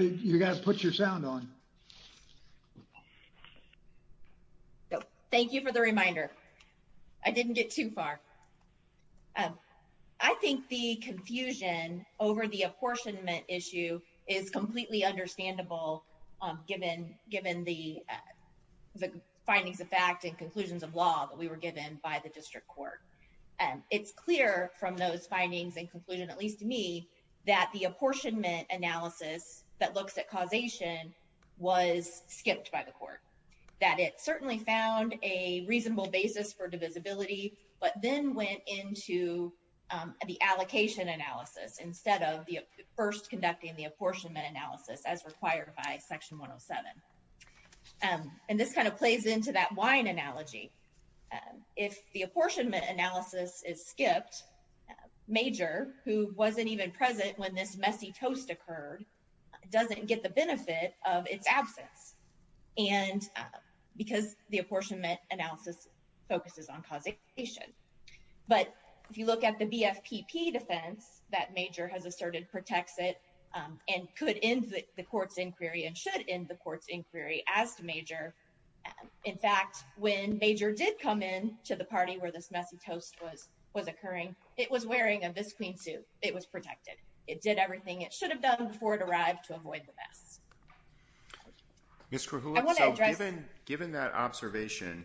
you got to put your sound on. Thank you for the reminder. I didn't get too far. I think the confusion over the apportionment issue is completely understandable given the findings of fact and conclusions of law that we were given by the district court. It's clear from those findings and conclusions, at least to me, that the apportionment analysis that looks at causation was skipped by the court. That it certainly found a reasonable basis for divisibility but then went into the allocation analysis instead of first conducting the apportionment analysis as required by Section 107. And this kind of plays into that wine analogy. If the apportionment analysis is skipped, Major, who wasn't even present when this messy toast occurred, doesn't get the benefit of its absence because the apportionment analysis focuses on causation. But if you look at the BFPP defense that Major has asserted protects it and could end the court's inquiry and should end the court's inquiry as to Major. In fact, when Major did come in to the party where this messy toast was occurring, it was wearing a visqueen suit. It was protected. It did everything it should have done before it arrived to avoid the mess. Ms. Krahula, given that observation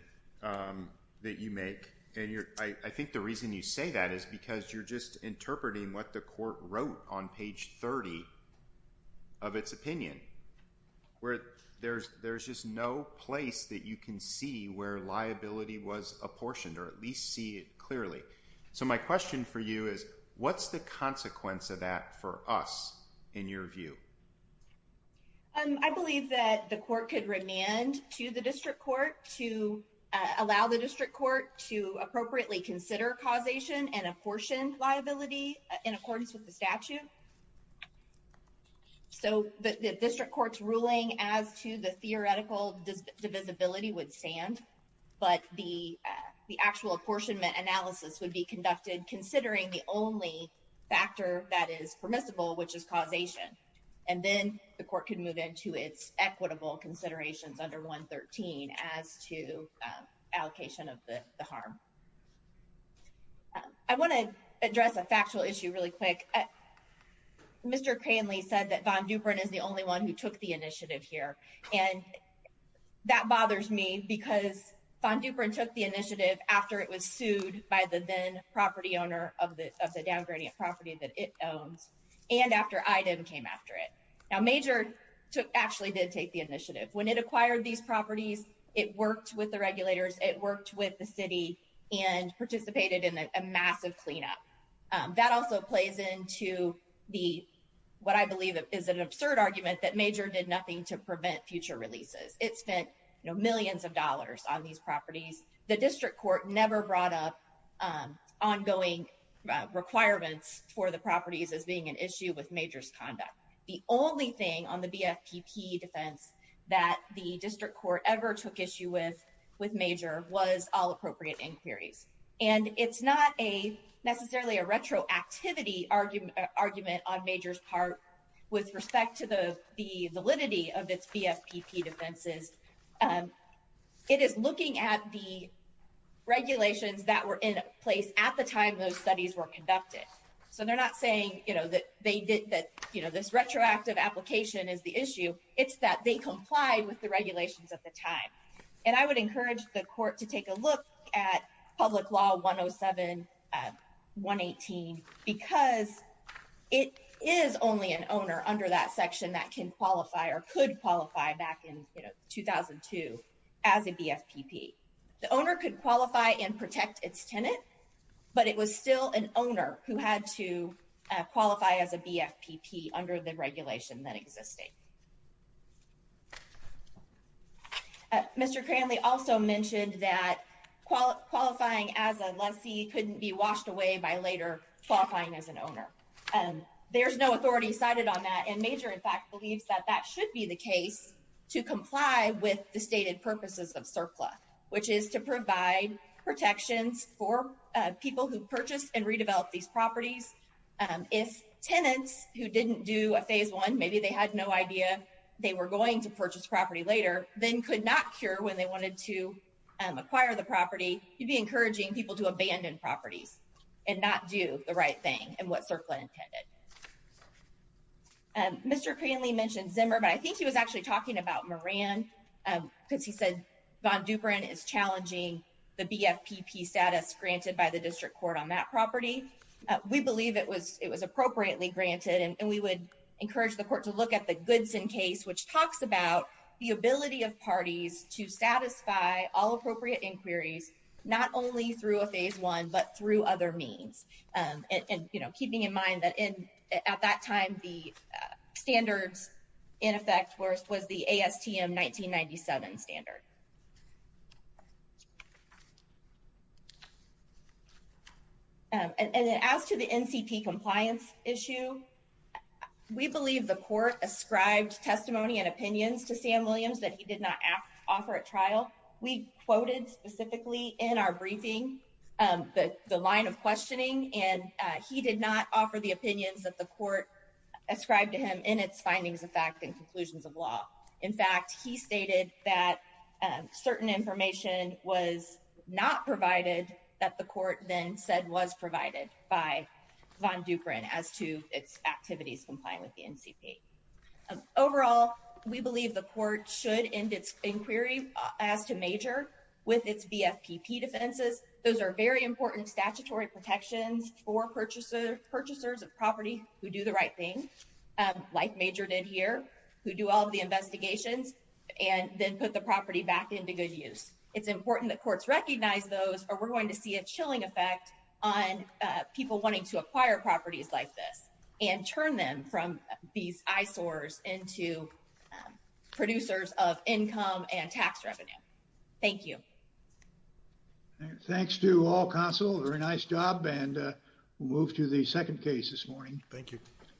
that you make, and I think the reason you say that is because you're just interpreting what the court wrote on page 30 of its opinion, where there's just no place that you can see where liability was apportioned or at least see it is, what's the consequence of that for us, in your view? I believe that the court could remand to the district court to allow the district court to appropriately consider causation and apportion liability in accordance with the statute. So the district court's ruling as to the theoretical divisibility would stand, but the only factor that is permissible, which is causation, and then the court could move into its equitable considerations under 113 as to allocation of the harm. I want to address a factual issue really quick. Mr. Cranley said that Von Duprin is the only one who took the initiative here, and that bothers me because Von Duprin took the initiative after it was sued by the then property owner of the downgrading property that it owns, and after IDEM came after it. Now, Major actually did take the initiative. When it acquired these properties, it worked with the regulators, it worked with the city, and participated in a massive cleanup. That also plays into what I believe is an absurd argument that Major did nothing to prevent future releases. It spent millions of dollars on these properties. The district court never brought up ongoing requirements for the properties as being an issue with Major's conduct. The only thing on the BFPP defense that the district court ever took issue with with Major was all appropriate inquiries, and it's not necessarily a retroactivity argument on Major's part with respect to the validity of its BFPP defenses. It is looking at the regulations that were in place at the time those studies were conducted, so they're not saying that this retroactive application is the issue. It's that they complied with the regulations at the time, and I would encourage the court to qualify or could qualify back in 2002 as a BFPP. The owner could qualify and protect its tenant, but it was still an owner who had to qualify as a BFPP under the regulation that existed. Mr. Cranley also mentioned that qualifying as a lessee couldn't be washed away by later qualifying as an owner. There's no authority cited on that, and Major, in fact, believes that that should be the case to comply with the stated purposes of surplus, which is to provide protections for people who purchased and redeveloped these properties. If tenants who didn't do a phase one, maybe they had no idea they were going to purchase property later, then could not cure when they wanted to acquire the property. You'd be encouraging people to abandon properties and not do the right thing and what surplus intended. Mr. Cranley mentioned Zimmer, but I think he was actually talking about Moran because he said Von Duprin is challenging the BFPP status granted by the district court on that property. We believe it was appropriately granted, and we would encourage the court to look at the Goodson case, which talks about the ability of parties to satisfy all appropriate inquiries, not only through a phase one, but through other means. And, you know, keeping in mind that at that time the standards in effect was the ASTM 1997 standard. And as to the NCP compliance issue, we believe the court ascribed testimony and opinions to Williams that he did not offer at trial. We quoted specifically in our briefing the line of questioning, and he did not offer the opinions that the court ascribed to him in its findings of fact and conclusions of law. In fact, he stated that certain information was not provided that the court then said was provided by Von Duprin as to its activities complying with the NCP. Overall, we believe the court should end its inquiry as to Major with its BFPP defenses. Those are very important statutory protections for purchasers of property who do the right thing, like Major did here, who do all the investigations and then put the property back into good use. It's important that courts recognize those, or we're going to see a chilling effect on people wanting to acquire properties like this. And turn them from these eyesores into producers of income and tax revenue. Thank you. Thanks to all counsel. Very nice job. And we'll move to the second case this morning. Thank you.